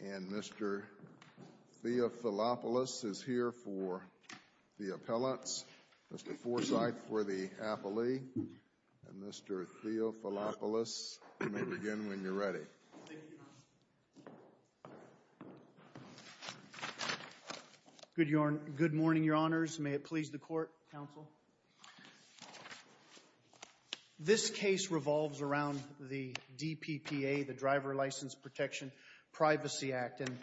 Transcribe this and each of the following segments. And Mr. Theophilopoulos is here for the appellants. Mr. Forsythe for the appellee. And Mr. Theophilopoulos, you may begin when you're ready. Good morning, Your Honors. May it please the Court, Counsel. This case revolves around the DPPA, the Driver License Protection Privacy Act. And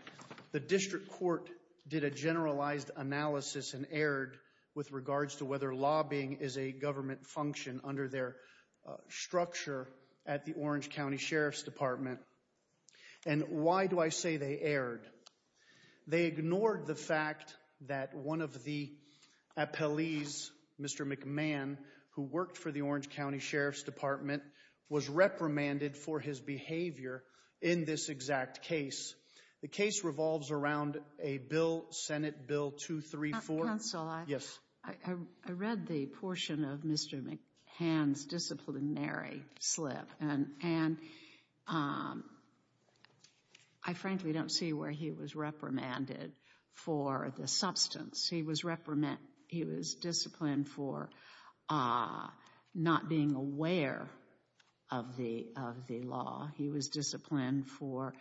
the District Court did a generalized analysis and erred with regards to whether lobbying is a government function under their structure at the Orange County Sheriff's Department. And why do I say they erred? They ignored the fact that one of the appellees, Mr. McMahon, who worked for the Orange County Sheriff's Department was reprimanded for his behavior in this exact case. The case revolves around a bill, Senate Bill 234. Counsel, I read the portion of Mr. McMahon's disciplinary slip. And I frankly don't see where he was reprimanded for the substance. He was disciplined for not being aware of the law. He was disciplined for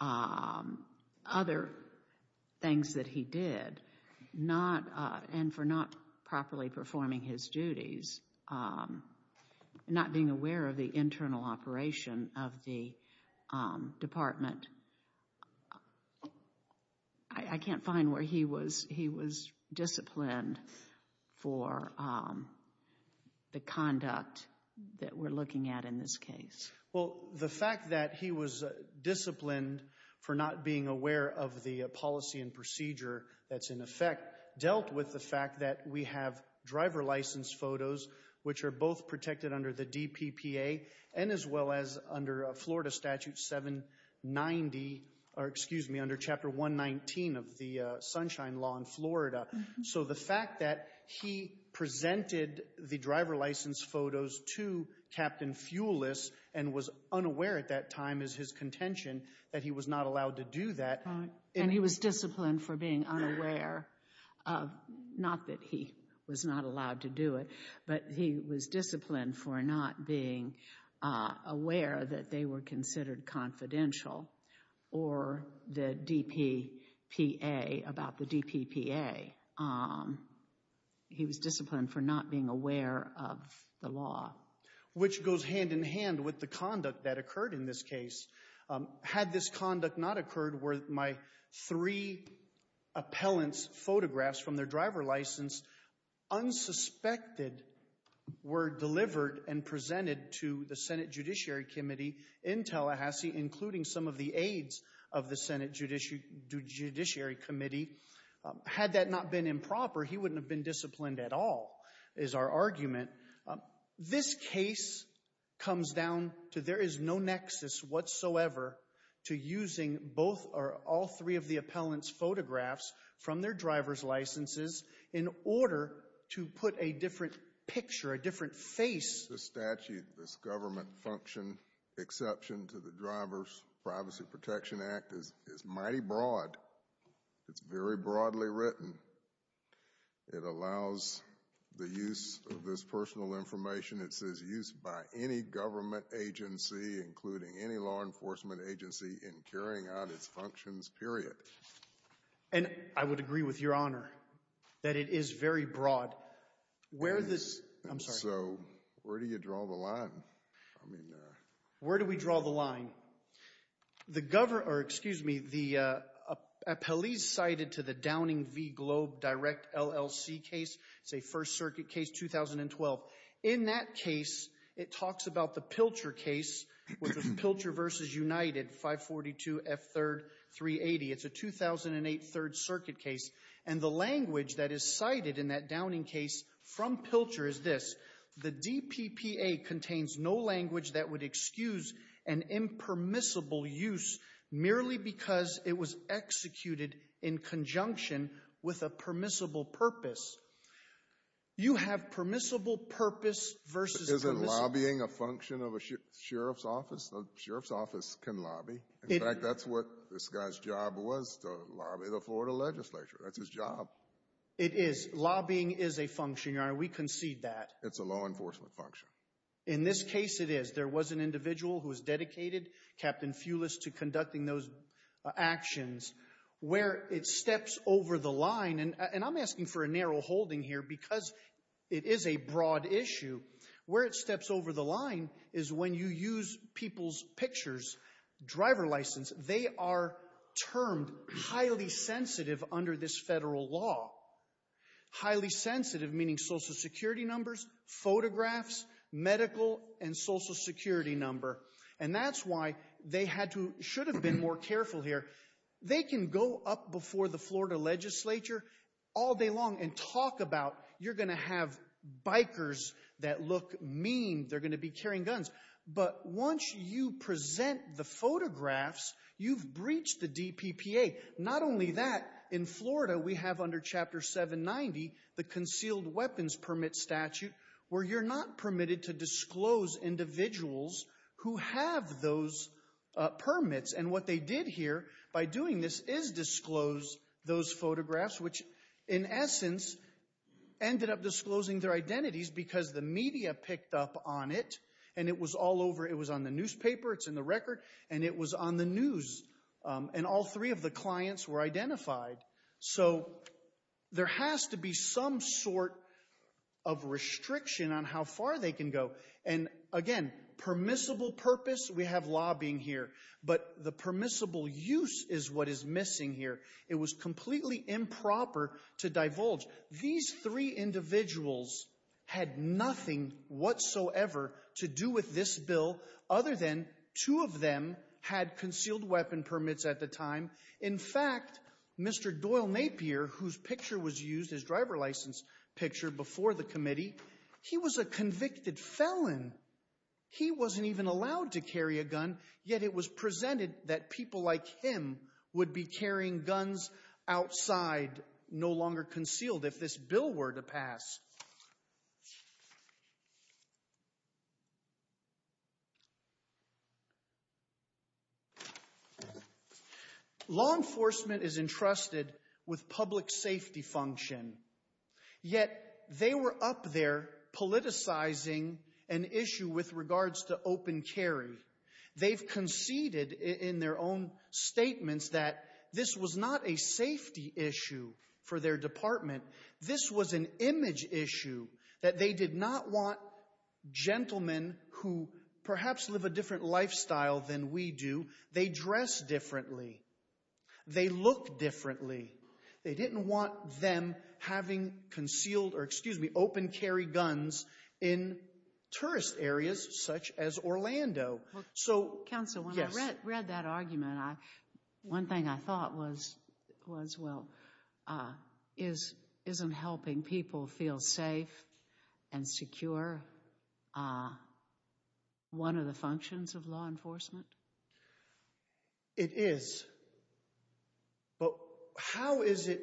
other things that he did and for not properly performing his duties, not being aware of the internal operation of the department. I can't find where he was disciplined for the conduct that we're looking at in this case. Well, the fact that he was disciplined for not being aware of the policy and procedure that's in effect dealt with the fact that we have driver license photos, which are both protected under the DPPA and as well as under Florida Statute 790, or excuse me, under Chapter 119 of the Sunshine Law in Florida. So the fact that he presented the driver license photos to Captain Fulis and was unaware at that time is his contention that he was not allowed to do that. And he was disciplined for being unaware. Not that he was not allowed to do it, but he was disciplined for not being aware that they were considered confidential or the DPPA about the DPPA. He was disciplined for not being aware of the law. Which goes hand in hand with the conduct that occurred in this case. Had this conduct not occurred, were my three appellant's photographs from their driver license unsuspected were delivered and presented to the Senate Judiciary Committee in Tallahassee, including some of the aides of the Senate Judiciary Committee. Had that not been improper, he wouldn't have been disciplined at all, is our argument. This case comes down to there is no nexus whatsoever to using both or all three of the appellant's photographs from their driver's licenses in order to put a different picture, a different face. The statute, this government function exception to the Driver's Privacy Protection Act is mighty broad. It's very broadly written. It allows the use of this personal information. It's used by any government agency, including any law enforcement agency, in carrying out its functions, period. And I would agree with Your Honor that it is very broad. Where this, I'm sorry. So, where do you draw the line? Where do we draw the line? The governor, or excuse me, the appellees cited to the Downing v. Globe direct LLC case, say First Circuit case 2012. In that case, it talks about the Pilcher case, which is Pilcher v. United, 542F3-380. It's a 2008 Third Circuit case. And the language that is cited in that Downing case from Pilcher is this. The DPPA contains no language that would excuse an impermissible use merely because it was executed in conjunction with a permissible purpose. You have permissible purpose versus permissible purpose. Isn't lobbying a function of a sheriff's office? A sheriff's office can lobby. In fact, that's what this guy's job was, to lobby the Florida legislature. That's his job. It is. Lobbying is a function, Your Honor. We concede that. It's a law enforcement function. In this case, it is. There was an individual who was dedicated, Captain Fulis, to conducting those actions. Where it steps over the line, and I'm asking for a narrow holding here because it is a broad issue. Where it steps over the line is when you use people's pictures, driver license, they are termed highly sensitive under this federal law. Highly sensitive meaning social security numbers, photographs, medical, and social security number. And that's why they should have been more careful here. They can go up before the Florida legislature all day long and talk about you're going to have bikers that look mean. They're going to be carrying guns. But once you present the photographs, you've breached the DPPA. Not only that, in Florida we have under Chapter 790 the concealed weapons permit statute where you're not permitted to disclose individuals who have those permits. And what they did here by doing this is disclose those photographs, which in essence ended up disclosing their identities because the media picked up on it. And it was all over. It was on the newspaper. It's in the record. And it was on the news. And all three of the clients were identified. So there has to be some sort of restriction on how far they can go. And again, permissible purpose, we have lobbying here. But the permissible use is what is missing here. It was completely improper to divulge. These three individuals had nothing whatsoever to do with this bill other than two of them had concealed weapon permits at the time. In fact, Mr. Doyle Napier, whose picture was used, his driver license picture, before the committee, he was a convicted felon. He wasn't even allowed to carry a gun, yet it was presented that people like him would be carrying guns outside no longer concealed if this bill were to pass. Law enforcement is entrusted with public safety function. Yet they were up there politicizing an issue with regards to open carry. They've conceded in their own statements that this was not a safety issue for their department. This was an image issue that they did not want gentlemen who perhaps live a different lifestyle than we do. They dress differently. They look differently. They didn't want them having concealed, or excuse me, open carry guns in tourist areas such as Orlando. Counsel, when I read that argument, one thing I thought was, well, isn't helping people feel safe and secure one of the functions of law enforcement? It is. But how is it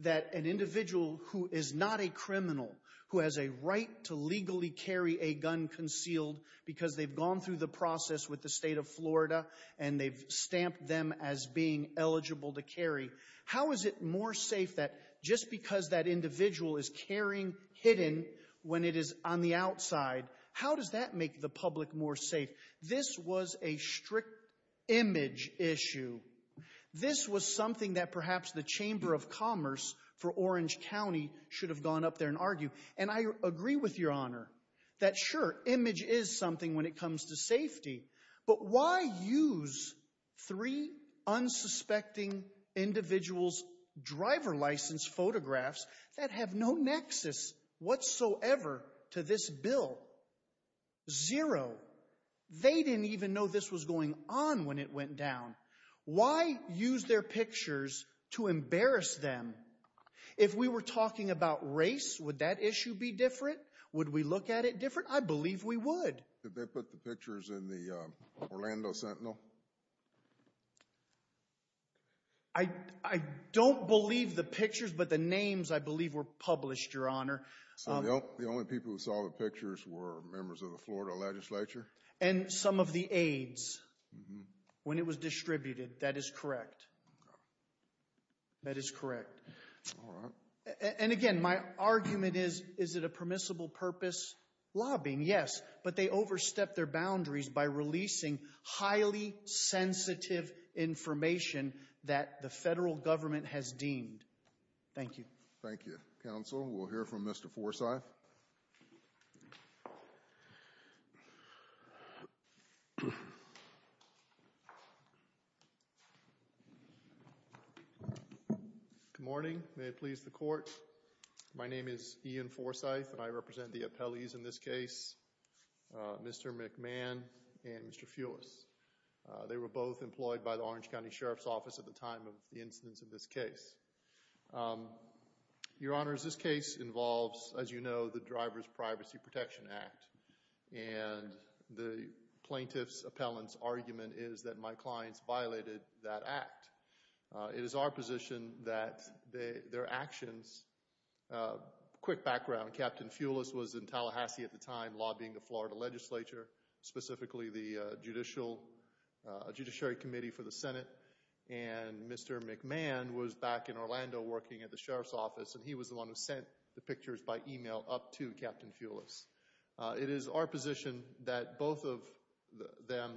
that an individual who is not a criminal, who has a right to legally carry a gun concealed, because they've gone through the process with the state of Florida and they've stamped them as being eligible to carry, how is it more safe that just because that individual is carrying hidden when it is on the outside, how does that make the public more safe? This was a strict image issue. This was something that perhaps the Chamber of Commerce for Orange County should have gone up there and argued. And I agree with your honor, that sure, image is something when it comes to safety. But why use three unsuspecting individuals' driver license photographs that have no nexus whatsoever to this bill? Zero. They didn't even know this was going on when it went down. Why use their pictures to embarrass them? If we were talking about race, would that issue be different? Would we look at it different? I believe we would. Did they put the pictures in the Orlando Sentinel? I don't believe the pictures, but the names I believe were published, your honor. So the only people who saw the pictures were members of the Florida legislature? And some of the aides. When it was distributed, that is correct. That is correct. And again, my argument is, is it a permissible purpose? Lobbying, yes. But they overstepped their boundaries by releasing highly sensitive information that the federal government has deemed. Thank you. Thank you, counsel. We'll hear from Mr. Forsyth. Good morning. May it please the court. My name is Ian Forsyth, and I represent the appellees in this case, Mr. McMahon and Mr. Fulis. They were both employed by the Orange County Sheriff's Office at the time of the incidents in this case. Your honor, this case involves, as you know, the Driver's Privacy Protection Act. And the plaintiff's appellant's argument is that my clients violated that act. It is our position that their actions, quick background, Captain Fulis was in Tallahassee at the time, lobbying the Florida legislature, specifically the Judiciary Committee for the Senate. And Mr. McMahon was back in Orlando working at the Sheriff's Office, and he was the one who sent the pictures by email up to Captain Fulis. It is our position that both of them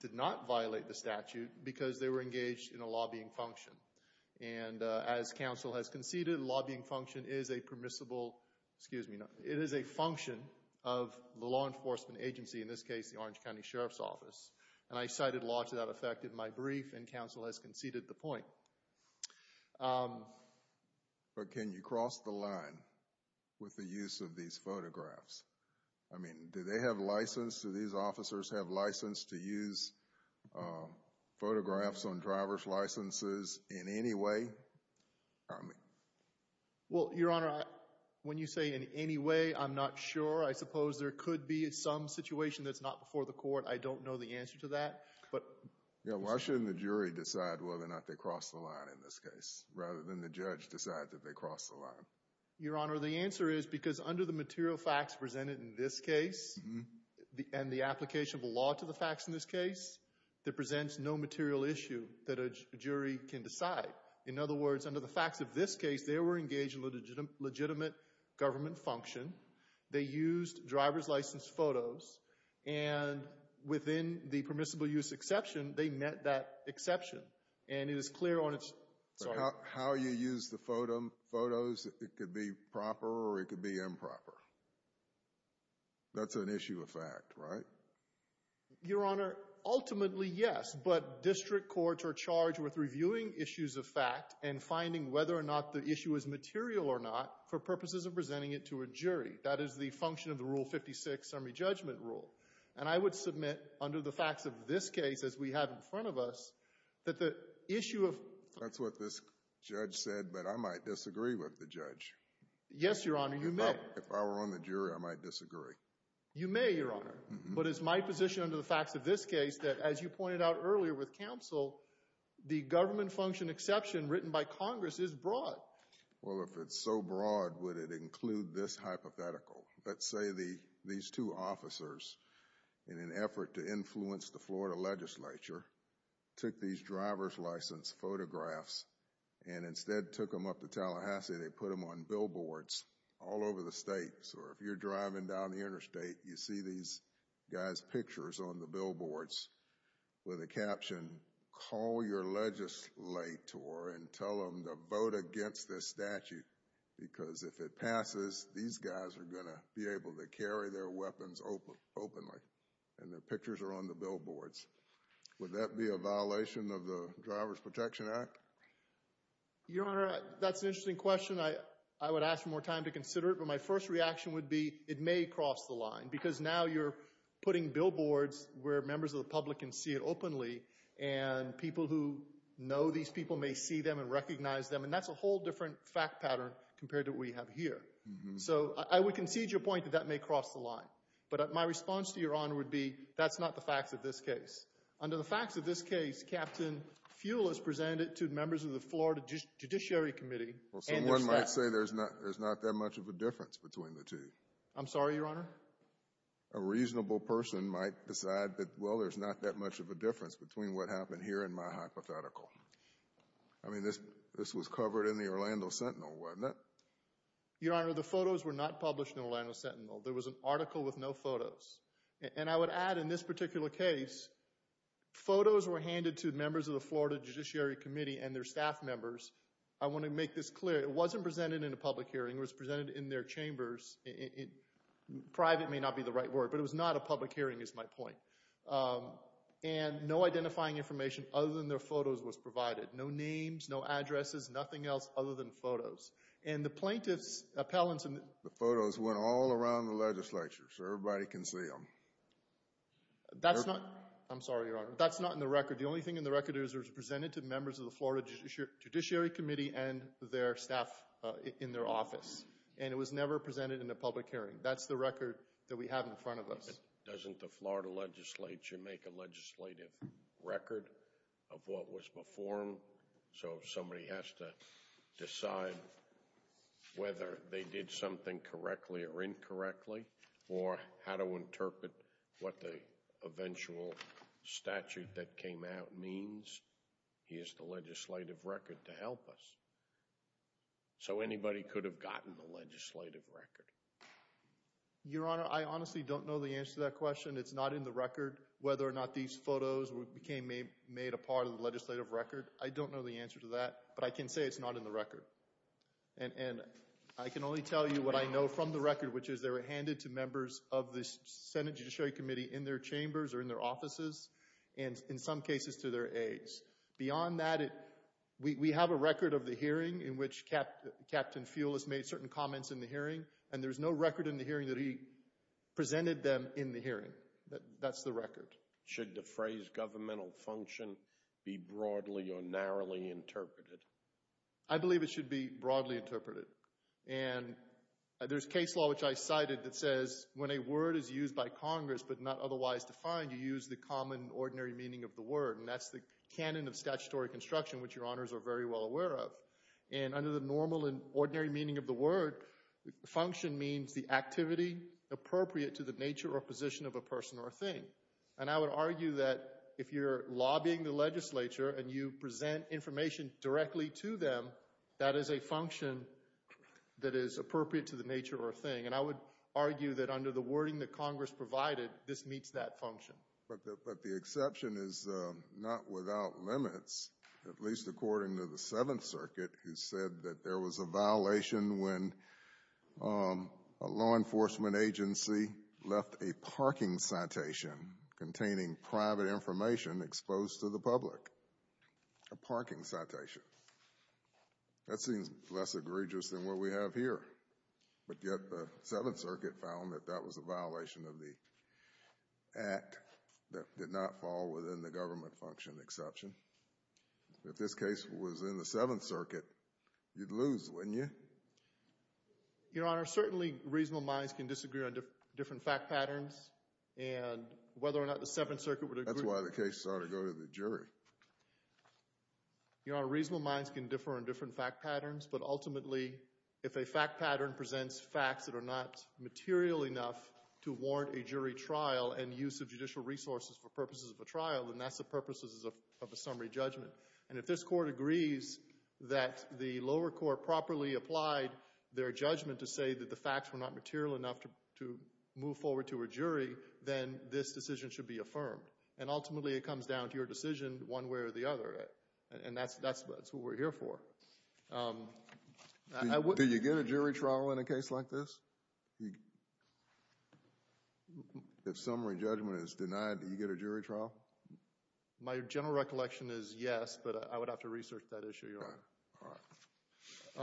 did not violate the statute because they were engaged in a lobbying function. And as counsel has conceded, lobbying function is a permissible, excuse me, it is a function of the law enforcement agency, in this case, the Orange County Sheriff's Office. And I cited law to that effect in my brief, and counsel has conceded the point. But can you cross the line with the use of these photographs? I mean, do they have license, do these officers have license to use photographs on driver's licenses in any way? Well, your honor, when you say in any way, I'm not sure. I suppose there could be some situation that's not before the court. I don't know the answer to that. Yeah, why shouldn't the jury decide whether or not they cross the line in this case, rather than the judge decide that they cross the line? Your honor, the answer is because under the material facts presented in this case and the application of law to the facts in this case, there presents no material issue that a jury can decide. In other words, under the facts of this case, they were engaged in a legitimate government function. They used driver's license photos. And within the permissible use exception, they met that exception. And it is clear on its… How you use the photos, it could be proper or it could be improper. That's an issue of fact, right? Your honor, ultimately, yes. But district courts are charged with reviewing issues of fact and finding whether or not the issue is material or not for purposes of presenting it to a jury. That is the function of the Rule 56 summary judgment rule. And I would submit under the facts of this case, as we have in front of us, that the issue of… That's what this judge said, but I might disagree with the judge. Yes, your honor, you may. If I were on the jury, I might disagree. You may, your honor. But it's my position under the facts of this case that, as you pointed out earlier with counsel, the government function exception written by Congress is broad. Well, if it's so broad, would it include this hypothetical? Let's say these two officers, in an effort to influence the Florida legislature, took these driver's license photographs and instead took them up to Tallahassee. They put them on billboards all over the state. So if you're driving down the interstate, you see these guys' pictures on the billboards with a caption, call your legislator and tell them to vote against this statute. Because if it passes, these guys are going to be able to carry their weapons openly. And their pictures are on the billboards. Would that be a violation of the Driver's Protection Act? Your honor, that's an interesting question. I would ask for more time to consider it. But my first reaction would be it may cross the line. Because now you're putting billboards where members of the public can see it openly and people who know these people may see them and recognize them. And that's a whole different fact pattern compared to what we have here. So I would concede your point that that may cross the line. But my response to your honor would be that's not the facts of this case. Under the facts of this case, Captain Fuel has presented it to members of the Florida Judiciary Committee. Someone might say there's not that much of a difference between the two. I'm sorry, your honor? A reasonable person might decide that, well, there's not that much of a difference between what happened here and my hypothetical. I mean, this was covered in the Orlando Sentinel, wasn't it? Your honor, the photos were not published in Orlando Sentinel. There was an article with no photos. And I would add in this particular case, photos were handed to members of the Florida Judiciary Committee and their staff members. I want to make this clear. It wasn't presented in a public hearing. It was presented in their chambers. Private may not be the right word, but it was not a public hearing is my point. And no identifying information other than their photos was provided. No names, no addresses, nothing else other than photos. And the plaintiff's appellants and the photos went all around the legislature, so everybody can see them. That's not, I'm sorry, your honor, that's not in the record. The only thing in the record is it was presented to members of the Florida Judiciary Committee and their staff in their office. And it was never presented in a public hearing. That's the record that we have in front of us. Doesn't the Florida legislature make a legislative record of what was performed? So somebody has to decide whether they did something correctly or incorrectly or how to interpret what the eventual statute that came out means. Here's the legislative record to help us. So anybody could have gotten the legislative record. Your honor, I honestly don't know the answer to that question. It's not in the record whether or not these photos became made a part of the legislative record. I don't know the answer to that, but I can say it's not in the record. And I can only tell you what I know from the record, which is they were handed to members of the Senate Judiciary Committee in their chambers or in their offices, and in some cases to their aides. Beyond that, we have a record of the hearing in which Captain Fulis made certain comments in the hearing, and there's no record in the hearing that he presented them in the hearing. That's the record. Should the phrase governmental function be broadly or narrowly interpreted? I believe it should be broadly interpreted. And there's case law, which I cited, that says when a word is used by Congress but not otherwise defined, you use the common, ordinary meaning of the word, and that's the canon of statutory construction, which your honors are very well aware of. And under the normal and ordinary meaning of the word, function means the activity appropriate to the nature or position of a person or a thing. And I would argue that if you're lobbying the legislature and you present information directly to them, that is a function that is appropriate to the nature of a thing. And I would argue that under the wording that Congress provided, this meets that function. But the exception is not without limits, at least according to the Seventh Circuit, who said that there was a violation when a law enforcement agency left a parking citation containing private information exposed to the public, a parking citation. That seems less egregious than what we have here. But yet the Seventh Circuit found that that was a violation of the act that did not fall within the government function exception. If this case was in the Seventh Circuit, you'd lose, wouldn't you? Your honor, certainly reasonable minds can disagree on different fact patterns and whether or not the Seventh Circuit would agree. That's why the case ought to go to the jury. Your honor, reasonable minds can differ on different fact patterns, but ultimately if a fact pattern presents facts that are not material enough to warrant a jury trial and use of judicial resources for purposes of a trial, then that's the purposes of a summary judgment. And if this court agrees that the lower court properly applied their judgment to say that the facts were not material enough to move forward to a jury, then this decision should be affirmed. And ultimately it comes down to your decision one way or the other, and that's what we're here for. Did you get a jury trial in a case like this? If summary judgment is denied, do you get a jury trial? My general recollection is yes, but I would have to research that issue, your honor.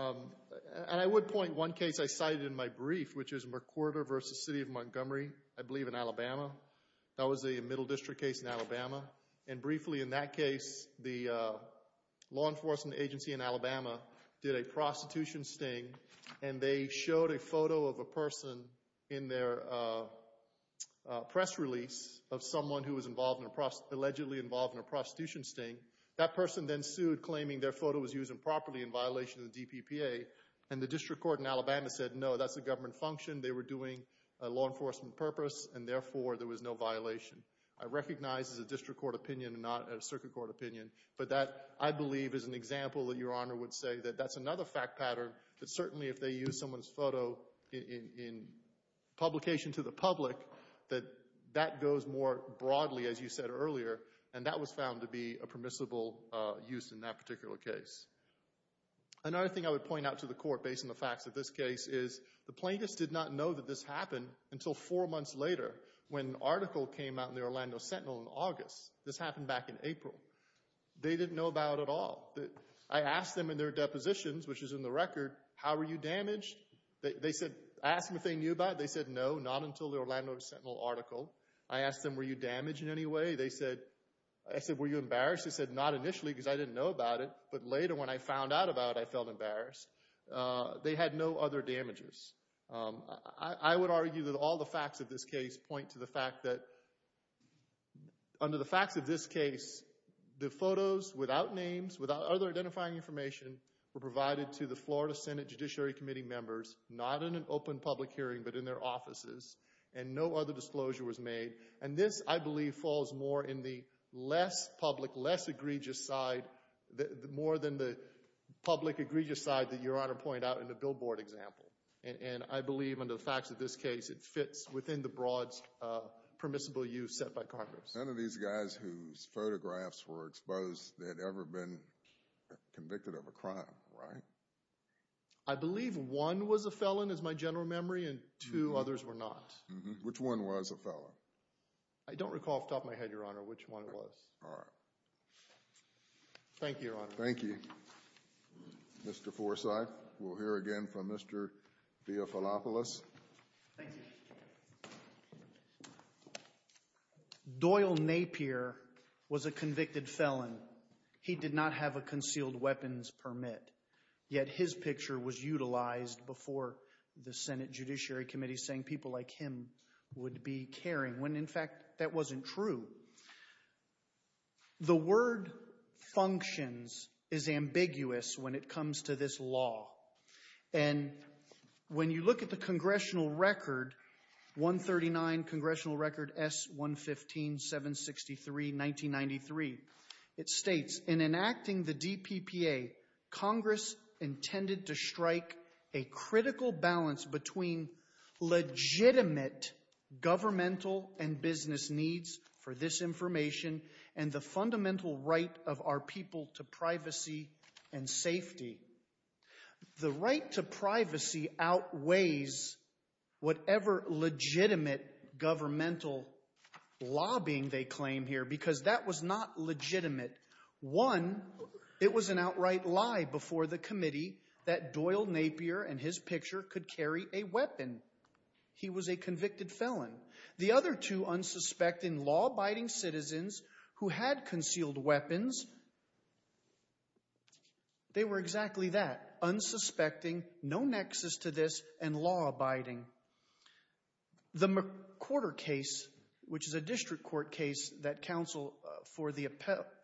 All right. And I would point one case I cited in my brief, which is McWhorter v. City of Montgomery, I believe in Alabama. That was a middle district case in Alabama. And briefly in that case, the law enforcement agency in Alabama did a prostitution sting and they showed a photo of a person in their press release of someone who was allegedly involved in a prostitution sting. That person then sued, claiming their photo was used improperly in violation of the DPPA, and the district court in Alabama said, no, that's a government function. They were doing law enforcement purpose, and therefore there was no violation. I recognize it's a district court opinion and not a circuit court opinion, but that, I believe, is an example that your honor would say that that's another fact pattern that certainly if they use someone's photo in publication to the public, that that goes more broadly, as you said earlier, and that was found to be a permissible use in that particular case. Another thing I would point out to the court based on the facts of this case is the plaintiffs did not know that this happened until four months later when an article came out in the Orlando Sentinel in August. This happened back in April. They didn't know about it at all. I asked them in their depositions, which is in the record, how were you damaged? I asked them if they knew about it. They said, no, not until the Orlando Sentinel article. I asked them, were you damaged in any way? I said, were you embarrassed? They said, not initially because I didn't know about it, but later when I found out about it, I felt embarrassed. They had no other damages. I would argue that all the facts of this case point to the fact that under the facts of this case, the photos without names, without other identifying information, were provided to the Florida Senate Judiciary Committee members, not in an open public hearing but in their offices, and no other disclosure was made. And this, I believe, falls more in the less public, less egregious side, more than the public egregious side that Your Honor pointed out in the billboard example. And I believe under the facts of this case, it fits within the broad permissible use set by Congress. None of these guys whose photographs were exposed, they had ever been convicted of a crime, right? I believe one was a felon is my general memory and two others were not. Which one was a felon? I don't recall off the top of my head, Your Honor, which one it was. All right. Thank you, Your Honor. Thank you. Mr. Forsythe, we'll hear again from Mr. Villafelopoulos. Thank you. Thank you. Doyle Napier was a convicted felon. He did not have a concealed weapons permit. Yet his picture was utilized before the Senate Judiciary Committee, saying people like him would be caring when, in fact, that wasn't true. The word functions is ambiguous when it comes to this law. And when you look at the congressional record, 139 Congressional Record S. 115-763-1993, it states, in enacting the DPPA, Congress intended to strike a critical balance between legitimate governmental and business needs for this information and the fundamental right of our people to privacy and safety. The right to privacy outweighs whatever legitimate governmental lobbying they claim here because that was not legitimate. One, it was an outright lie before the committee that Doyle Napier and his picture could carry a weapon. He was a convicted felon. The other two unsuspecting law-abiding citizens who had concealed weapons, they were exactly that, unsuspecting, no nexus to this, and law-abiding. The McWhorter case, which is a district court case that counsel for the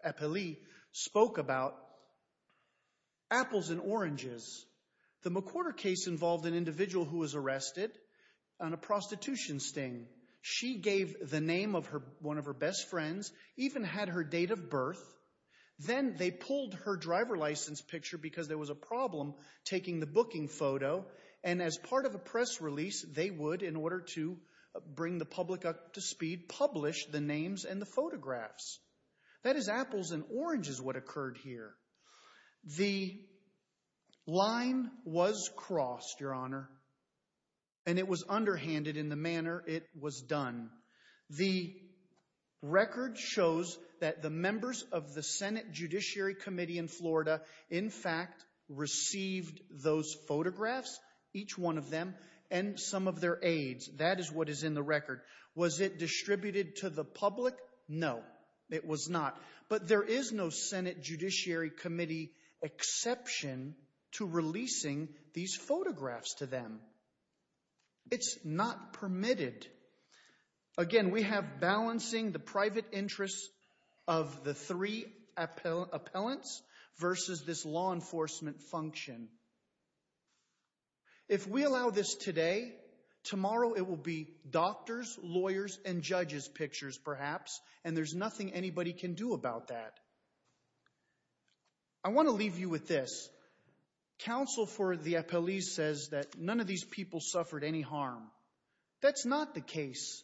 appellee spoke about, apples and oranges. The McWhorter case involved an individual who was arrested on a prostitution sting. She gave the name of one of her best friends, even had her date of birth. Then they pulled her driver license picture because there was a problem taking the booking photo. And as part of a press release, they would, in order to bring the public up to speed, publish the names and the photographs. That is apples and oranges what occurred here. The line was crossed, Your Honor, and it was underhanded in the manner it was done. The record shows that the members of the Senate Judiciary Committee in Florida, in fact, received those photographs, each one of them, and some of their aides. That is what is in the record. Was it distributed to the public? No, it was not. But there is no Senate Judiciary Committee exception to releasing these photographs to them. It's not permitted. Again, we have balancing the private interests of the three appellants versus this law enforcement function. If we allow this today, tomorrow it will be doctors, lawyers, and judges' pictures, perhaps, and there's nothing anybody can do about that. I want to leave you with this. Counsel for the appellees says that none of these people suffered any harm. That's not the case.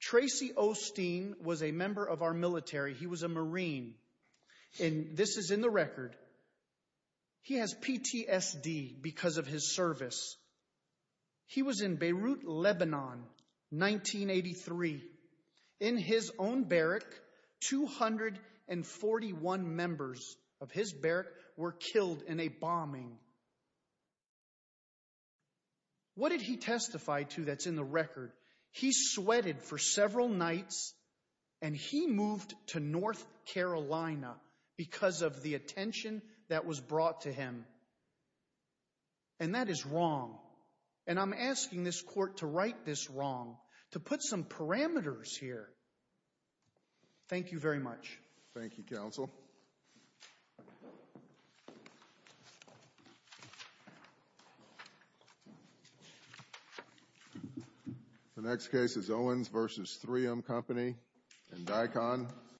Tracy Osteen was a member of our military. He was a Marine, and this is in the record. He has PTSD because of his service. He was in Beirut, Lebanon, 1983. In his own barrack, 241 members of his barrack were killed in a bombing. What did he testify to that's in the record? He sweated for several nights, and he moved to North Carolina because of the attention that was brought to him. And that is wrong. And I'm asking this court to right this wrong, to put some parameters here. Thank you very much. Thank you, Counsel.